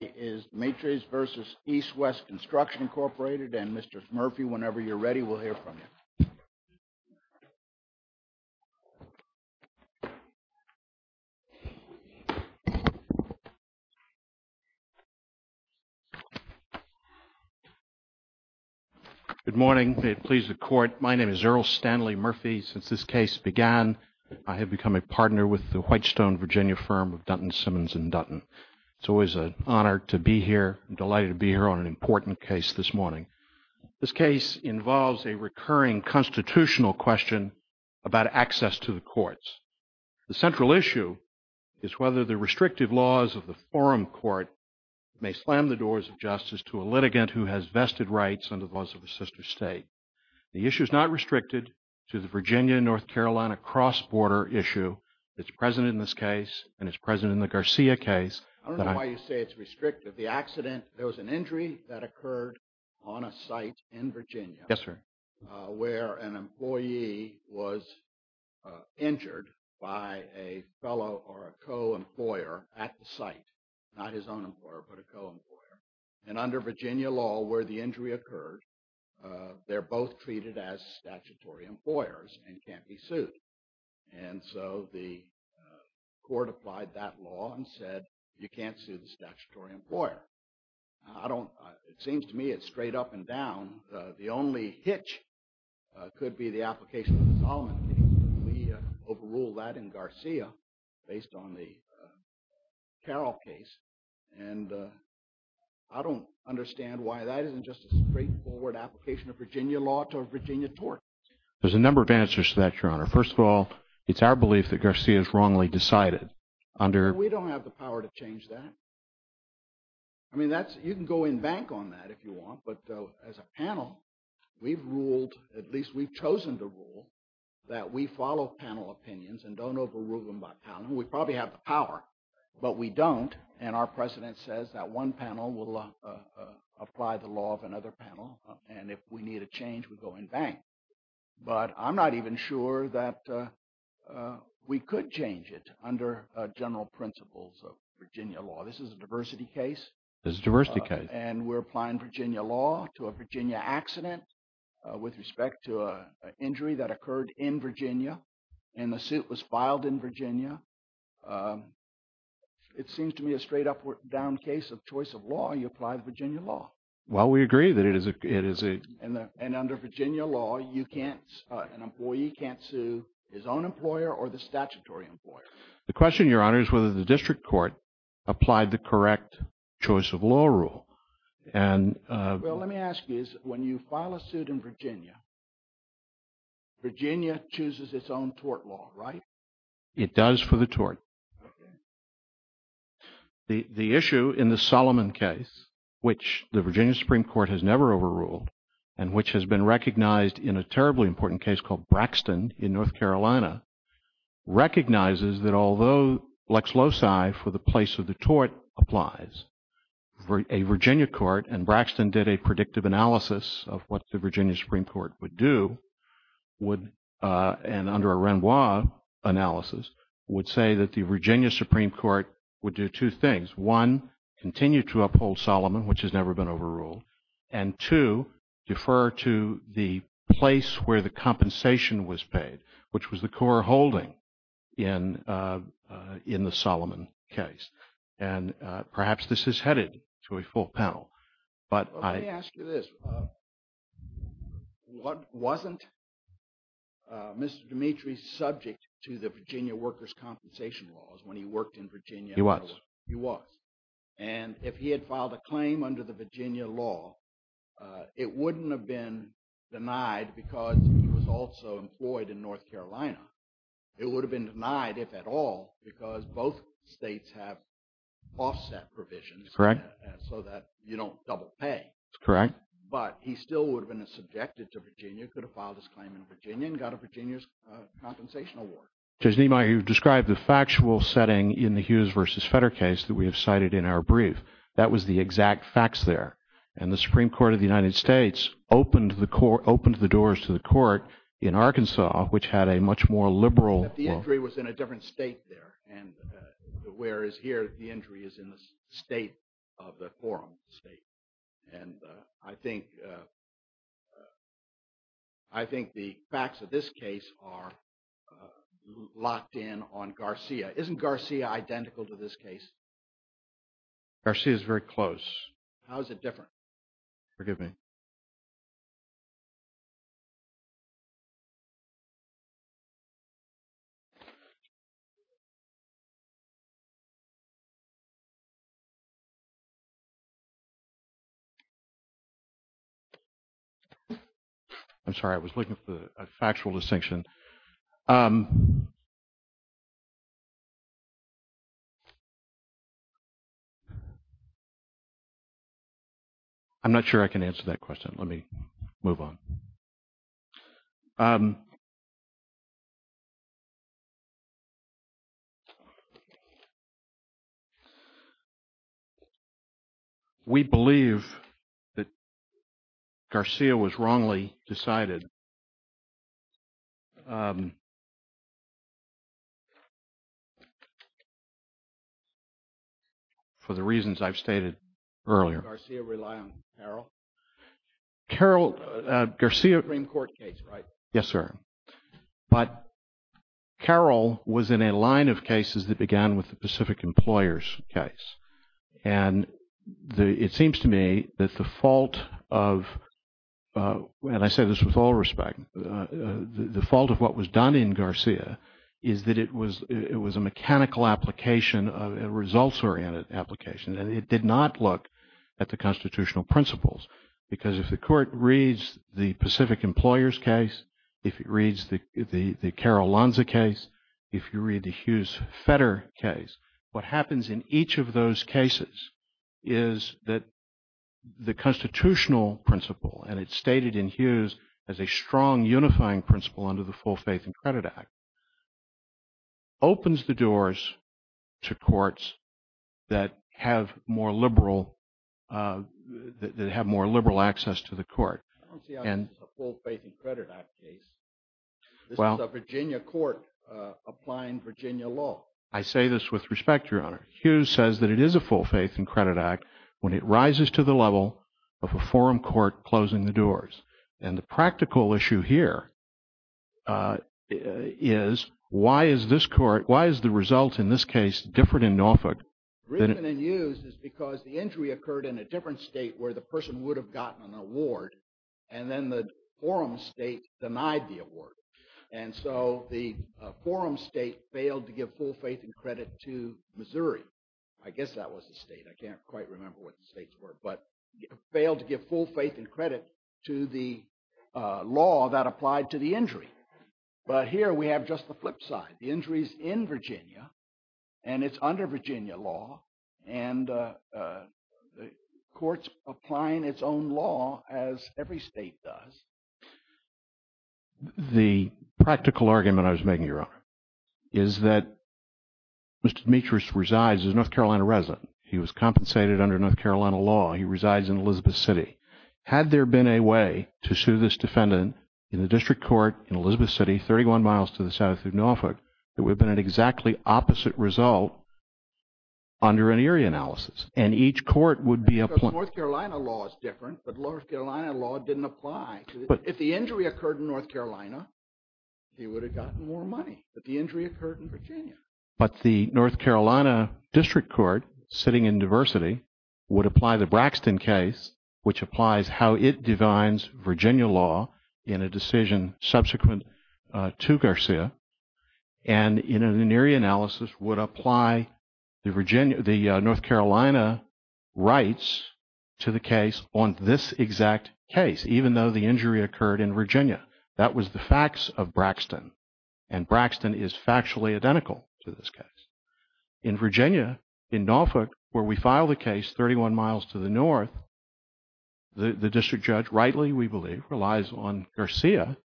and Mr. Murphy, whenever you're ready, we'll hear from you. Good morning. May it please the Court. My name is Earl Stanley Murphy. Since this case began, I have become a partner with the Whitestone, Virginia firm of Dutton, Simmons & Dutton. It's always an honor to be here. I'm delighted to be here on an important case this morning. This case involves a recurring constitutional question about access to the courts. The central issue is whether the restrictive laws of the forum court may slam the doors of justice to a litigant who has vested rights under the laws of a sister state. The issue is not restricted to the Virginia and North Carolina cross-border issue that's present in this case and is present in the Garcia case. I don't know why you say it's restrictive. The accident, there was an injury that occurred on a site in Virginia. Yes, sir. Where an employee was injured by a fellow or a co-employer at the site. Not his own employer, but a co-employer. And under Virginia law, where the injury occurred, they're both treated as statutory employers and can't be sued. And so the court applied that law and said, you can't sue the statutory employer. I don't, it seems to me it's straight up and down. The only hitch could be the application of the Solomon case. We overruled that in Garcia based on the Carroll case. And I don't understand why that isn't just a straightforward application of Virginia law to a Virginia tort. There's a number of answers to that, Your Honor. First of all, it's our belief that Garcia is wrongly decided under. We don't have the power to change that. I mean, that's, you can go in bank on that if you want. But as a panel, we've ruled, at least we've chosen to rule that we follow panel opinions and don't overrule them by panel. We probably have the power, but we don't. And our president says that one panel will apply the law of another panel. And if we need a change, we go in bank. But I'm not even sure that we could change it under general principles of Virginia law. This is a diversity case. This is a diversity case. And we're applying Virginia law to a Virginia accident with respect to an injury that occurred in Virginia. And the suit was filed in Virginia. It seems to me a straight up or down case of choice of law. You apply the Virginia law. Well, we agree that it is a... And under Virginia law, you can't, an employee can't sue his own employer or the statutory employer. The question, Your Honor, is whether the district court applied the correct choice of law rule. And... Well, let me ask you this. When you file a suit in Virginia, Virginia chooses its own tort law, right? It does for the tort. Okay. The issue in the Solomon case, which the Virginia Supreme Court has never overruled, and which has been recognized in a terribly important case called Braxton in North Carolina, recognizes that although lex loci for the place of the tort applies, a Virginia court, and Braxton did a predictive analysis of what the Virginia Supreme Court would do, and under a Renoir analysis, would say that the Virginia Supreme Court would do two things. One, continue to uphold Solomon, which has never been overruled. And two, defer to the place where the compensation was paid, which was the core holding in the Solomon case. And perhaps this is headed to a full panel. But I... Wasn't Mr. Dimitri subject to the Virginia workers' compensation laws when he worked in Virginia? He was. He was. And if he had filed a claim under the Virginia law, it wouldn't have been denied because he was also employed in North Carolina. It would have been denied, if at all, because both states have offset provisions. Correct. So that you don't double pay. That's correct. But he still would have been subjected to Virginia, could have filed his claim in Virginia, and got a Virginia's compensation award. Judge Niemeyer, you've described the factual setting in the Hughes versus Fetter case that we have cited in our brief. That was the exact facts there. And the Supreme Court of the United States opened the doors to the court in Arkansas, which had a much more liberal... But the injury was in a different state there. And whereas here, the injury is in the state of the quorum state. And I think the facts of this case are locked in on Garcia. Isn't Garcia identical to this case? Garcia is very close. How is it different? Forgive me. I'm sorry. I was looking for a factual distinction. I'm not sure I can answer that question. Let me move on. We believe that Garcia was wrongly decided for the reasons I've stated earlier. Did Garcia rely on Carroll? Carroll... Garcia... Supreme Court case, right? Yes, sir. But Carroll was in a line of cases that began with the Pacific Employers case. And it seems to me that the fault of... And I say this with all respect. The fault of what was done in Garcia is that it was a mechanical application of a results-oriented application. And it did not look at the constitutional principles. Because if the court reads the Pacific Employers case, if it reads the Carroll-Lanza case, if you read the Hughes-Fetter case, what happens in each of those cases is that the constitutional principle, and it's stated in Hughes as a strong unifying principle under the Full Faith and Credit Act, opens the doors to courts that have more liberal access to the court. I don't see how this is a Full Faith and Credit Act case. This is a Virginia court applying Virginia law. I say this with respect, Your Honor. Hughes says that it is a Full Faith and Credit Act when it rises to the level of a forum court closing the doors. And the practical issue here is why is this court, why is the result in this case different in Norfolk? The reason in Hughes is because the injury occurred in a different state where the person would have gotten an award. And then the forum state denied the award. And so the forum state failed to give Full Faith and Credit to Missouri. I guess that was the state. I can't quite remember what the states were. But failed to give Full Faith and Credit to the law that applied to the injury. But here we have just the flip side. The injury's in Virginia, and it's under Virginia law, and the court's applying its own law as every state does. The practical argument I was making, Your Honor, is that Mr. Demetrius resides as a North Carolina resident. He was compensated under North Carolina law. He resides in Elizabeth City. Had there been a way to sue this defendant in the district court in Elizabeth City, 31 miles to the south of Norfolk, there would have been an exactly opposite result under an area analysis. And each court would be applying. Because North Carolina law is different, but North Carolina law didn't apply. If the injury occurred in North Carolina, he would have gotten more money. But the injury occurred in Virginia. But the North Carolina district court, sitting in diversity, would apply the Braxton case, which applies how it defines Virginia law in a decision subsequent to Garcia, and in an area analysis would apply the North Carolina rights to the case on this exact case, even though the injury occurred in Virginia. That was the facts of Braxton. And Braxton is factually identical to this case. In Virginia, in Norfolk, where we filed the case 31 miles to the north, the district judge rightly, we believe, relies on Garcia.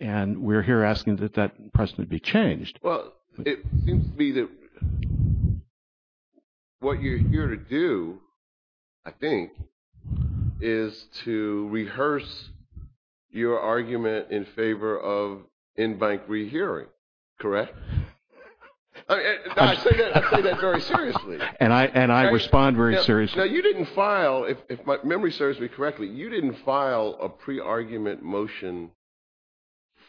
And we're here asking that that precedent be changed. Well, it seems to me that what you're here to do, I think, is to rehearse your argument in favor of in-bank rehearing, correct? I say that very seriously. And I respond very seriously. Now, you didn't file, if my memory serves me correctly, you didn't file a pre-argument motion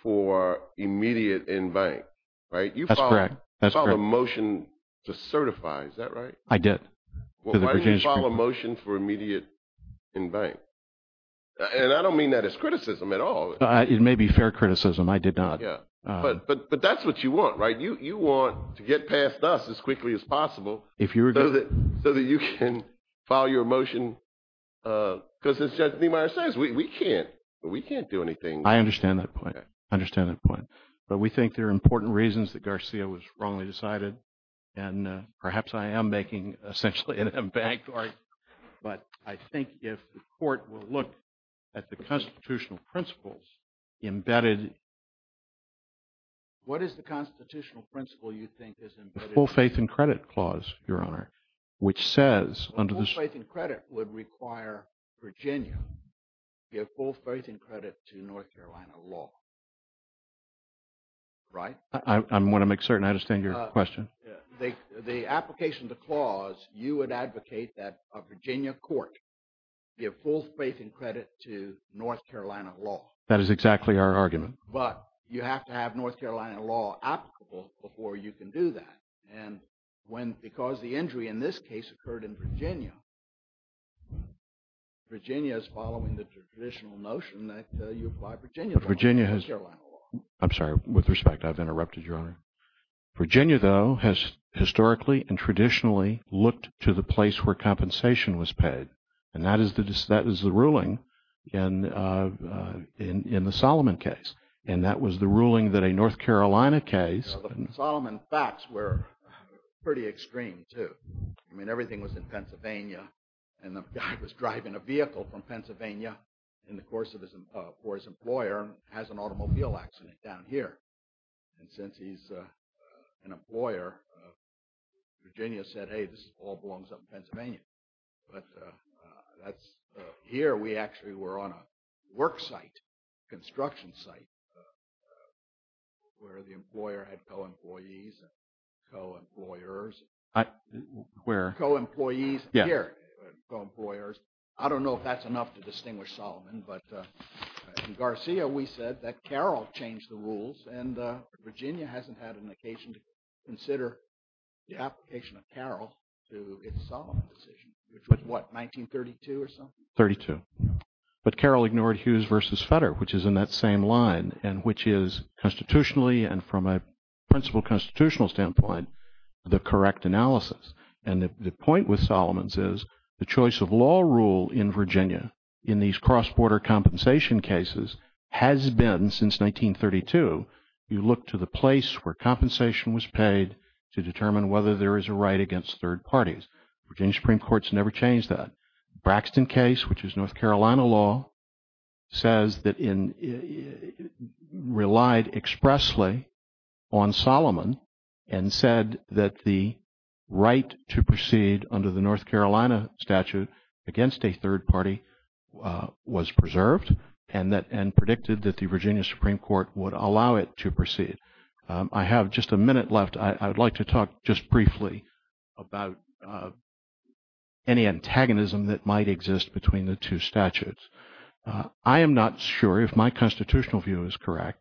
for immediate in-bank, right? That's correct. You filed a motion to certify. Is that right? I did. Why didn't you file a motion for immediate in-bank? And I don't mean that as criticism at all. It may be fair criticism. I did not. But that's what you want, right? You want to get past us as quickly as possible so that you can file your motion, because, as Judge Niemeyer says, we can't. We can't do anything. I understand that point. I understand that point. But we think there are important reasons that Garcia was wrongly decided. And perhaps I am making essentially an in-bank argument. But I think if the court will look at the constitutional principles embedded in the full faith and credit clause, Your Honor, which says under the- The full faith and credit would require Virginia to give full faith and credit to North Carolina law, right? I want to make certain I understand your question. The application of the clause, you would advocate that a Virginia court give full faith and credit to North Carolina law. That is exactly our argument. But you have to have North Carolina law applicable before you can do that. And because the injury in this case occurred in Virginia, Virginia is following the traditional notion that you apply Virginia to North Carolina law. But Virginia has- I'm sorry. With respect, I've interrupted, Your Honor. Virginia, though, has historically and traditionally looked to the place where compensation was paid. And that is the ruling in the Solomon case. And that was the ruling that a North Carolina case- Solomon facts were pretty extreme, too. I mean, everything was in Pennsylvania. And the guy was driving a vehicle from Pennsylvania in the course of his- for his employer and has an automobile accident down here. And since he's an employer, Virginia said, hey, this all belongs up in Pennsylvania. But that's- here we actually were on a work site, construction site, where the employer had co-employees and co-employers. Where? Co-employees. Yeah. Co-employers. I don't know if that's enough to distinguish Solomon. But in Garcia, we said that Carroll changed the rules. And Virginia hasn't had an occasion to consider the application of Carroll to its Solomon decision, which was what, 1932 or something? Thirty-two. But Carroll ignored Hughes versus Fetter, which is in that same line, and which is constitutionally and from a principal constitutional standpoint, the correct analysis. And the point with Solomon's is the choice of law rule in Virginia in these cross-border compensation cases has been since 1932. You look to the place where compensation was paid to determine whether there is a right against third parties. Virginia Supreme Court's never changed that. Braxton case, which is North Carolina law, says that in- relied expressly on Solomon and said that the right to proceed under the North Carolina statute against a third party was preserved. And that- and predicted that the Virginia Supreme Court would allow it to proceed. I have just a minute left. I would like to talk just briefly about any antagonism that might exist between the two statutes. I am not sure if my constitutional view is correct.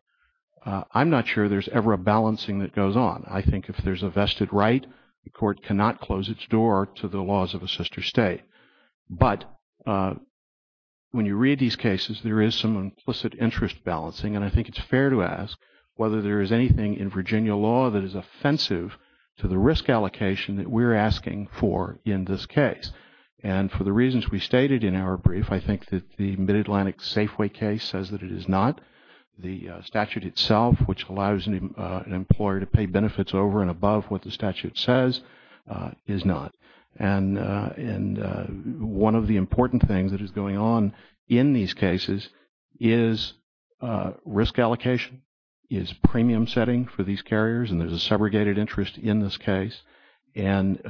I'm not sure there's ever a balancing that goes on. I think if there's a vested right, the court cannot close its door to the laws of a sister state. But when you read these cases, there is some implicit interest balancing. And I think it's fair to ask whether there is anything in Virginia law that is offensive to the risk allocation that we're asking for in this case. And for the reasons we stated in our brief, I think that the Mid-Atlantic Safeway case says that it is not. The statute itself, which allows an employer to pay benefits over and above what the statute says, is not. And one of the important things that is going on in these cases is risk allocation is premium setting for these carriers. And there's a segregated interest in this case. And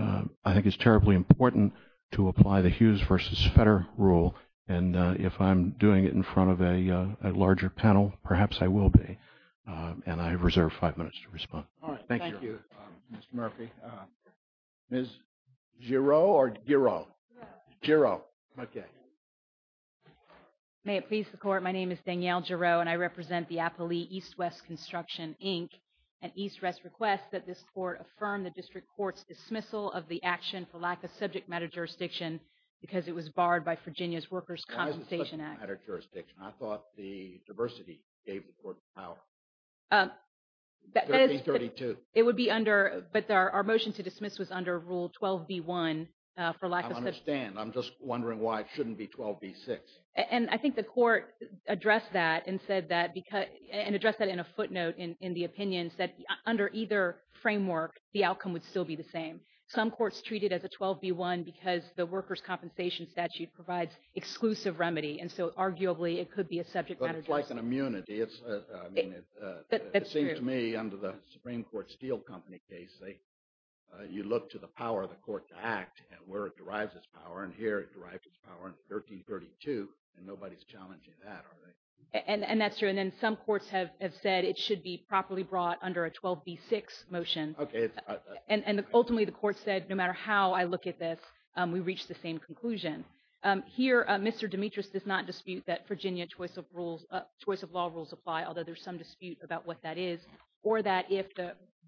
I think it's terribly important to apply the Hughes v. Feder rule. And if I'm doing it in front of a larger panel, perhaps I will be. And I reserve five minutes to respond. All right. Thank you, Mr. Murphy. Ms. Giroux or Giroux? Giroux. Giroux. OK. May it please the court, my name is Danielle Giroux, and I represent the Appali East-West Construction, Inc. And East-West requests that this court affirm the district court's dismissal of the action for lack of subject matter jurisdiction because it was barred by Virginia's Workers' Compensation Act. Why is it subject matter jurisdiction? I thought the diversity gave the court the power. It would be under. But our motion to dismiss was under Rule 12b-1 for lack of subject matter. I understand. I'm just wondering why it shouldn't be 12b-6. And I think the court addressed that and said that and addressed that in a footnote in the opinion, said under either framework, the outcome would still be the same. Some courts treat it as a 12b-1 because the Workers' Compensation statute provides exclusive remedy. And so, arguably, it could be a subject matter jurisdiction. But it's like an immunity. That's true. It seems to me under the Supreme Court Steel Company case, you look to the power of the court to act and where it derives its power. And here it derives its power in 1332, and nobody's challenging that, are they? And that's true. And then some courts have said it should be properly brought under a 12b-6 motion. OK. And ultimately, the court said no matter how I look at this, we reach the same conclusion. Here, Mr. Demetrius does not dispute that Virginia choice of law rules apply, although there's some dispute about what that is, or that if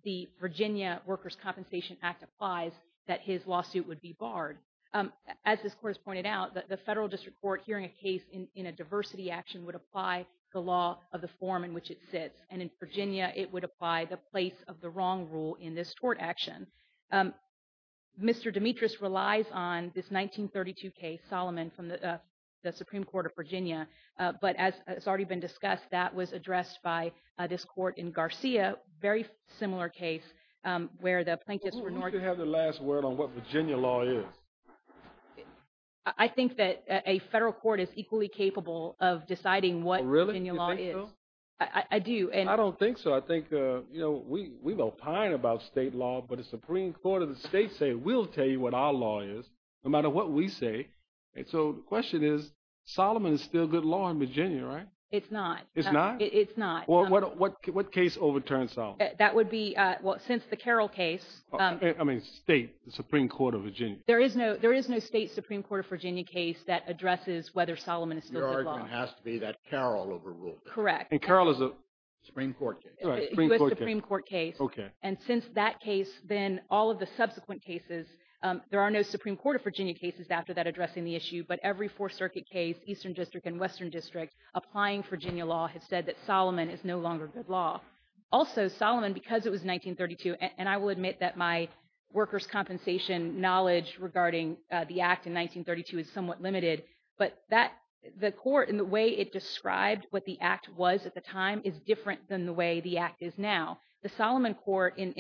the Virginia Workers' Compensation Act applies, that his lawsuit would be barred. As this court has pointed out, the federal district court hearing a case in a diversity action would apply the law of the form in which it sits. And in Virginia, it would apply the place of the wrong rule in this tort action. Mr. Demetrius relies on this 1932 case, Solomon, from the Supreme Court of Virginia. But as has already been discussed, that was addressed by this court in Garcia, a very similar case where the plaintiffs were… Who should have the last word on what Virginia law is? I think that a federal court is equally capable of deciding what Virginia law is. Oh, really? You think so? I do. I don't think so. I think we've opined about state law, but the Supreme Court of the states say, we'll tell you what our law is, no matter what we say. And so the question is, Solomon is still good law in Virginia, right? It's not. It's not? It's not. Well, what case overturns Solomon? That would be, well, since the Carroll case. I mean state, the Supreme Court of Virginia. There is no state Supreme Court of Virginia case that addresses whether Solomon is still good law. Your argument has to be that Carroll overruled it. Correct. And Carroll is a… U.S. Supreme Court case. U.S. Supreme Court case. Okay. And since that case, then all of the subsequent cases, there are no Supreme Court of Virginia cases after that addressing the issue, but every Fourth Circuit case, Eastern District and Western District applying Virginia law has said that Solomon is no longer good law. Also, Solomon, because it was 1932, and I will admit that my workers' compensation knowledge regarding the act in 1932 is somewhat limited, but the court and the way it described what the act was at the time is different than the way the act is now. The Solomon court in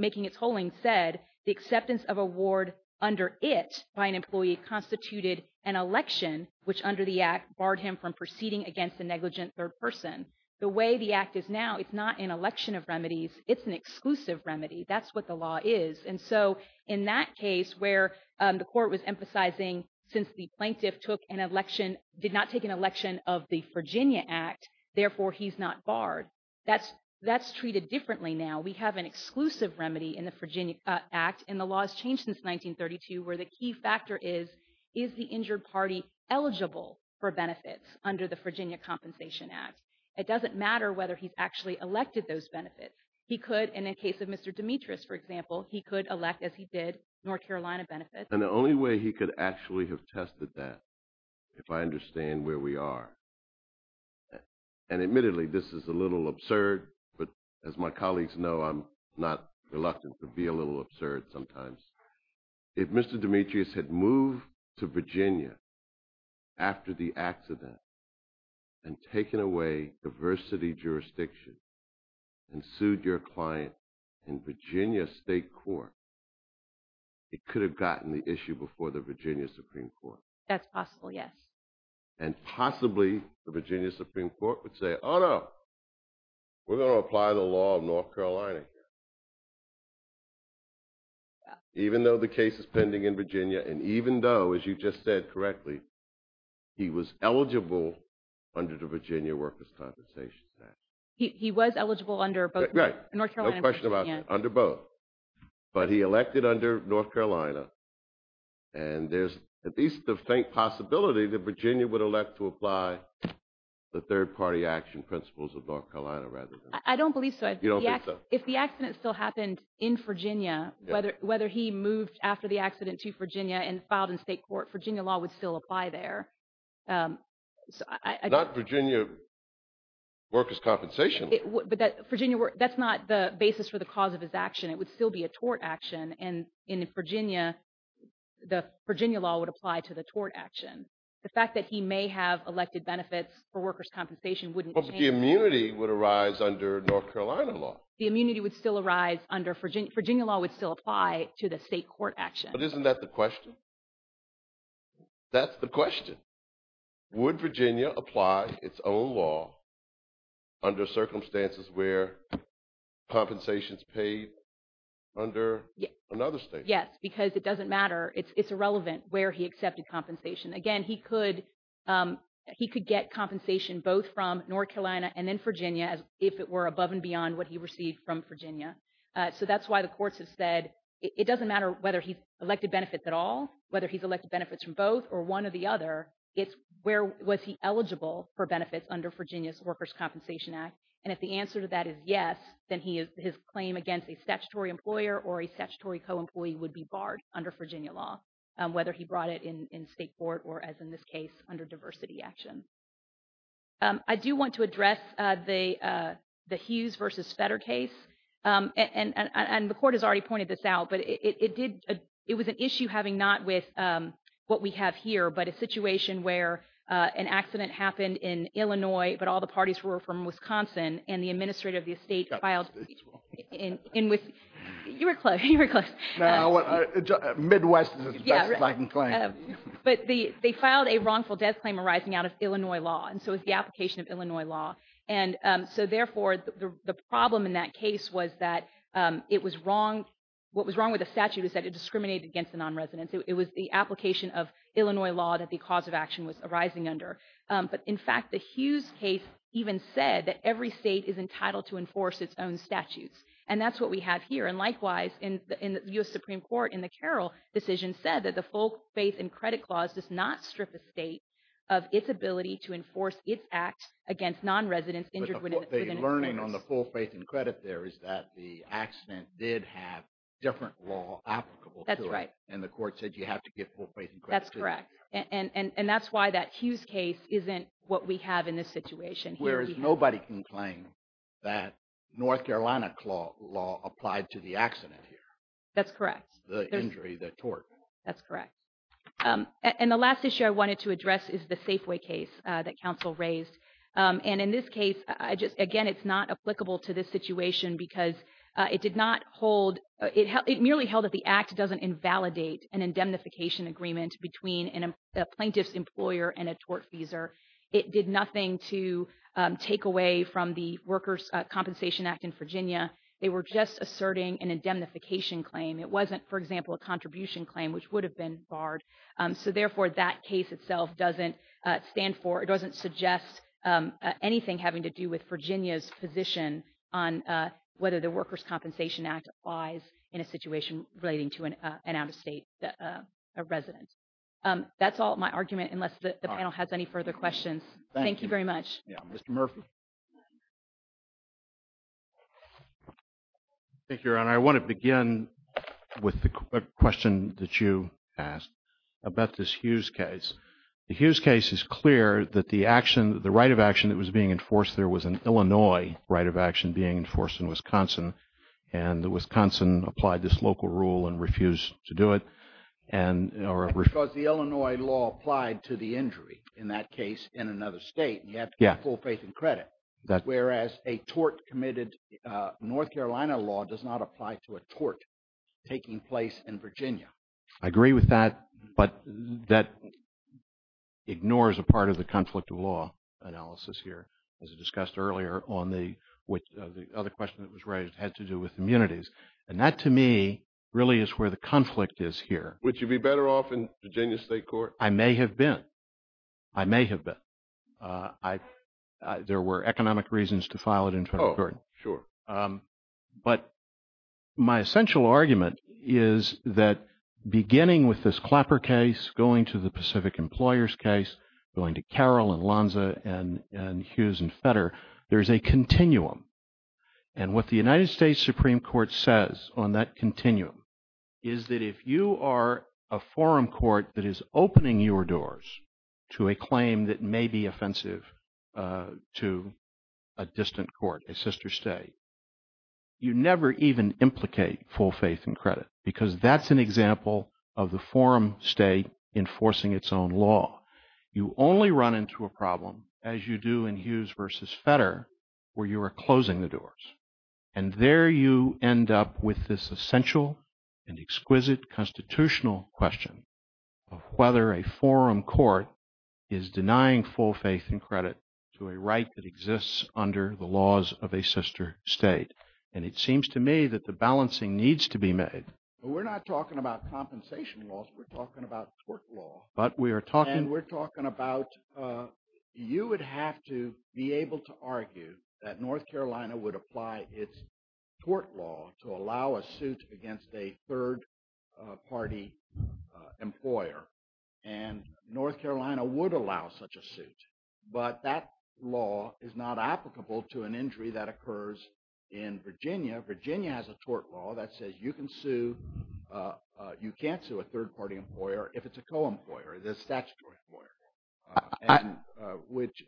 making its holding said the acceptance of a ward under it by an employee constituted an election, which under the act barred him from proceeding against a negligent third person. The way the act is now, it's not an election of remedies. It's an exclusive remedy. That's what the law is. And so in that case where the court was emphasizing since the plaintiff took an election, did not take an election of the Virginia act, therefore he's not barred, that's treated differently now. We have an exclusive remedy in the Virginia act, and the law has changed since 1932 where the key factor is, is the injured party eligible for benefits under the Virginia Compensation Act? It doesn't matter whether he's actually elected those benefits. He could, in the case of Mr. Demetrius, for example, he could elect, as he did, North Carolina benefits. And the only way he could actually have tested that, if I understand where we are, and admittedly this is a little absurd, but as my colleagues know, I'm not reluctant to be a little absurd sometimes. If Mr. Demetrius had moved to Virginia after the accident, and taken away diversity jurisdiction, and sued your client in Virginia state court, it could have gotten the issue before the Virginia Supreme Court. That's possible, yes. And possibly the Virginia Supreme Court would say, oh no, we're going to apply the law of North Carolina here. Even though the case is pending in Virginia, and even though, as you just said correctly, he was eligible under the Virginia Workers' Compensation Act. He was eligible under both? Right, no question about it, under both. But he elected under North Carolina, and there's at least the faint possibility that Virginia would elect to apply the third party action principles of North Carolina rather than... I don't believe so. You don't think so? If the accident still happened in Virginia, whether he moved after the accident to Virginia and filed in state court, Virginia law would still apply there. Not Virginia Workers' Compensation. But that's not the basis for the cause of his action. It would still be a tort action, and in Virginia, the Virginia law would apply to the tort action. The fact that he may have elected benefits for workers' compensation wouldn't change... But the immunity would arise under North Carolina law. The immunity would still arise under Virginia. Virginia law would still apply to the state court action. But isn't that the question? That's the question. Would Virginia apply its own law under circumstances where compensation is paid under another state? Yes, because it doesn't matter. It's irrelevant where he accepted compensation. Again, he could get compensation both from North Carolina and then Virginia if it were above and beyond what he received from Virginia. So that's why the courts have said it doesn't matter whether he's elected benefits at all, whether he's elected benefits from both, or one or the other, it's where was he eligible for benefits under Virginia's Workers' Compensation Act. And if the answer to that is yes, then his claim against a statutory employer or a statutory co-employee would be barred under Virginia law, whether he brought it in state court or, as in this case, under diversity action. I do want to address the Hughes v. Fetter case. And the court has already pointed this out, but it was an issue having not with what we have here, but a situation where an accident happened in Illinois, but all the parties were from Wisconsin, and the administrator of the estate filed... You were close. Midwest is the best I can claim. But they filed a wrongful death claim arising out of Illinois law, and so it's the application of Illinois law. And so, therefore, the problem in that case was that it was wrong. What was wrong with the statute was that it discriminated against the nonresidents. It was the application of Illinois law that the cause of action was arising under. But, in fact, the Hughes case even said that every state is entitled to enforce its own statutes, and that's what we have here. And, likewise, in the U.S. Supreme Court, in the Carroll decision, said that the full faith and credit clause does not strip a state of its ability to enforce its act against nonresidents injured within a case. But the learning on the full faith and credit there is that the accident did have different law applicable to it. That's right. And the court said you have to get full faith and credit. That's correct. And that's why that Hughes case isn't what we have in this situation. Whereas nobody can claim that North Carolina law applied to the accident here. That's correct. The injury, the tort. That's correct. And the last issue I wanted to address is the Safeway case that counsel raised. And, in this case, again, it's not applicable to this situation because it merely held that the act doesn't invalidate an indemnification agreement between a plaintiff's employer and a tortfeasor. It did nothing to take away from the Workers' Compensation Act in Virginia. They were just asserting an indemnification claim. It wasn't, for example, a contribution claim, which would have been barred. So, therefore, that case itself doesn't stand for, it doesn't suggest anything having to do with Virginia's position on whether the Workers' Compensation Act applies in a situation relating to an out-of-state resident. That's all my argument, unless the panel has any further questions. Thank you very much. Mr. Murphy. Thank you, Your Honor. I want to begin with the question that you asked about this Hughes case. The Hughes case is clear that the right of action that was being enforced there was an Illinois right of action being enforced in Wisconsin. And Wisconsin applied this local rule and refused to do it. Because the Illinois law applied to the injury in that case in another state, and you have to get full faith and credit. Whereas a tort committed, North Carolina law does not apply to a tort taking place in Virginia. I agree with that, but that ignores a part of the conflict of law analysis here. As I discussed earlier on the other question that was raised, it had to do with immunities. And that, to me, really is where the conflict is here. Would you be better off in Virginia State Court? I may have been. I may have been. There were economic reasons to file it in front of the court. Oh, sure. But my essential argument is that beginning with this Clapper case, going to the Pacific Employers case, going to Carroll and Lonza and Hughes and Fetter, there's a continuum. And what the United States Supreme Court says on that continuum is that if you are a forum court that is opening your doors to a claim that may be offensive to a distant court, a sister state, you never even implicate full faith and credit. Because that's an example of the forum state enforcing its own law. You only run into a problem, as you do in Hughes versus Fetter, where you are closing the doors. And there you end up with this essential and exquisite constitutional question of whether a forum court is denying full faith and credit to a right that exists under the laws of a sister state. And it seems to me that the balancing needs to be made. But we're not talking about compensation laws. We're talking about tort law. And we're talking about you would have to be able to argue that North Carolina would apply its tort law to allow a suit against a third-party employer. And North Carolina would allow such a suit. But that law is not applicable to an injury that occurs in Virginia. Virginia has a tort law that says you can sue – you can't sue a third-party employer if it's a co-employer, the statutory employer. And which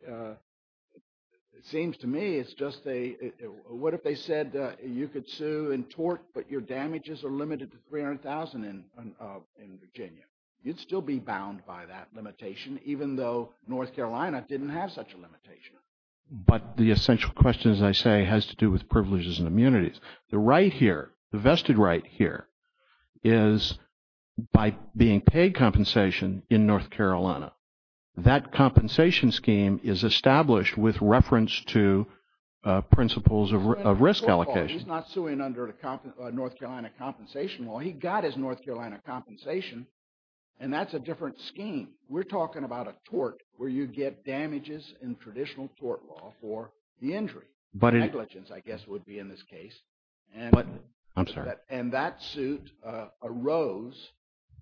seems to me it's just a – what if they said you could sue and tort, but your damages are limited to $300,000 in Virginia? You'd still be bound by that limitation, even though North Carolina didn't have such a limitation. But the essential question, as I say, has to do with privileges and immunities. The right here, the vested right here, is by being paid compensation in North Carolina. That compensation scheme is established with reference to principles of risk allocation. He's not suing under a North Carolina compensation law. He got his North Carolina compensation, and that's a different scheme. We're talking about a tort where you get damages in traditional tort law for the injury. Negligence, I guess, would be in this case. I'm sorry. And that suit arose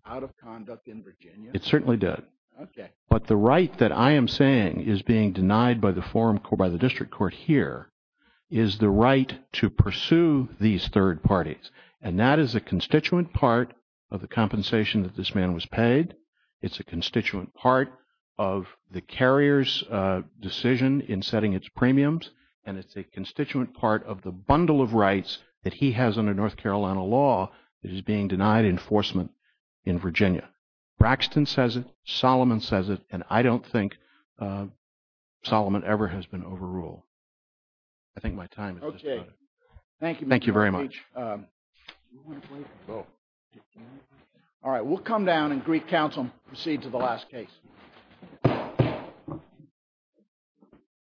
out of conduct in Virginia. It certainly did. Okay. But the right that I am saying is being denied by the forum court, by the district court here, is the right to pursue these third parties. And that is a constituent part of the compensation that this man was paid. It's a constituent part of the carrier's decision in setting its premiums, and it's a constituent part of the bundle of rights that he has under North Carolina law that is being denied enforcement in Virginia. Braxton says it. Solomon says it. And I don't think Solomon ever has been overruled. I think my time has just run out. Thank you, Mr. Leitch. Thank you very much. All right. We'll come down and Greek Council will proceed to the last case.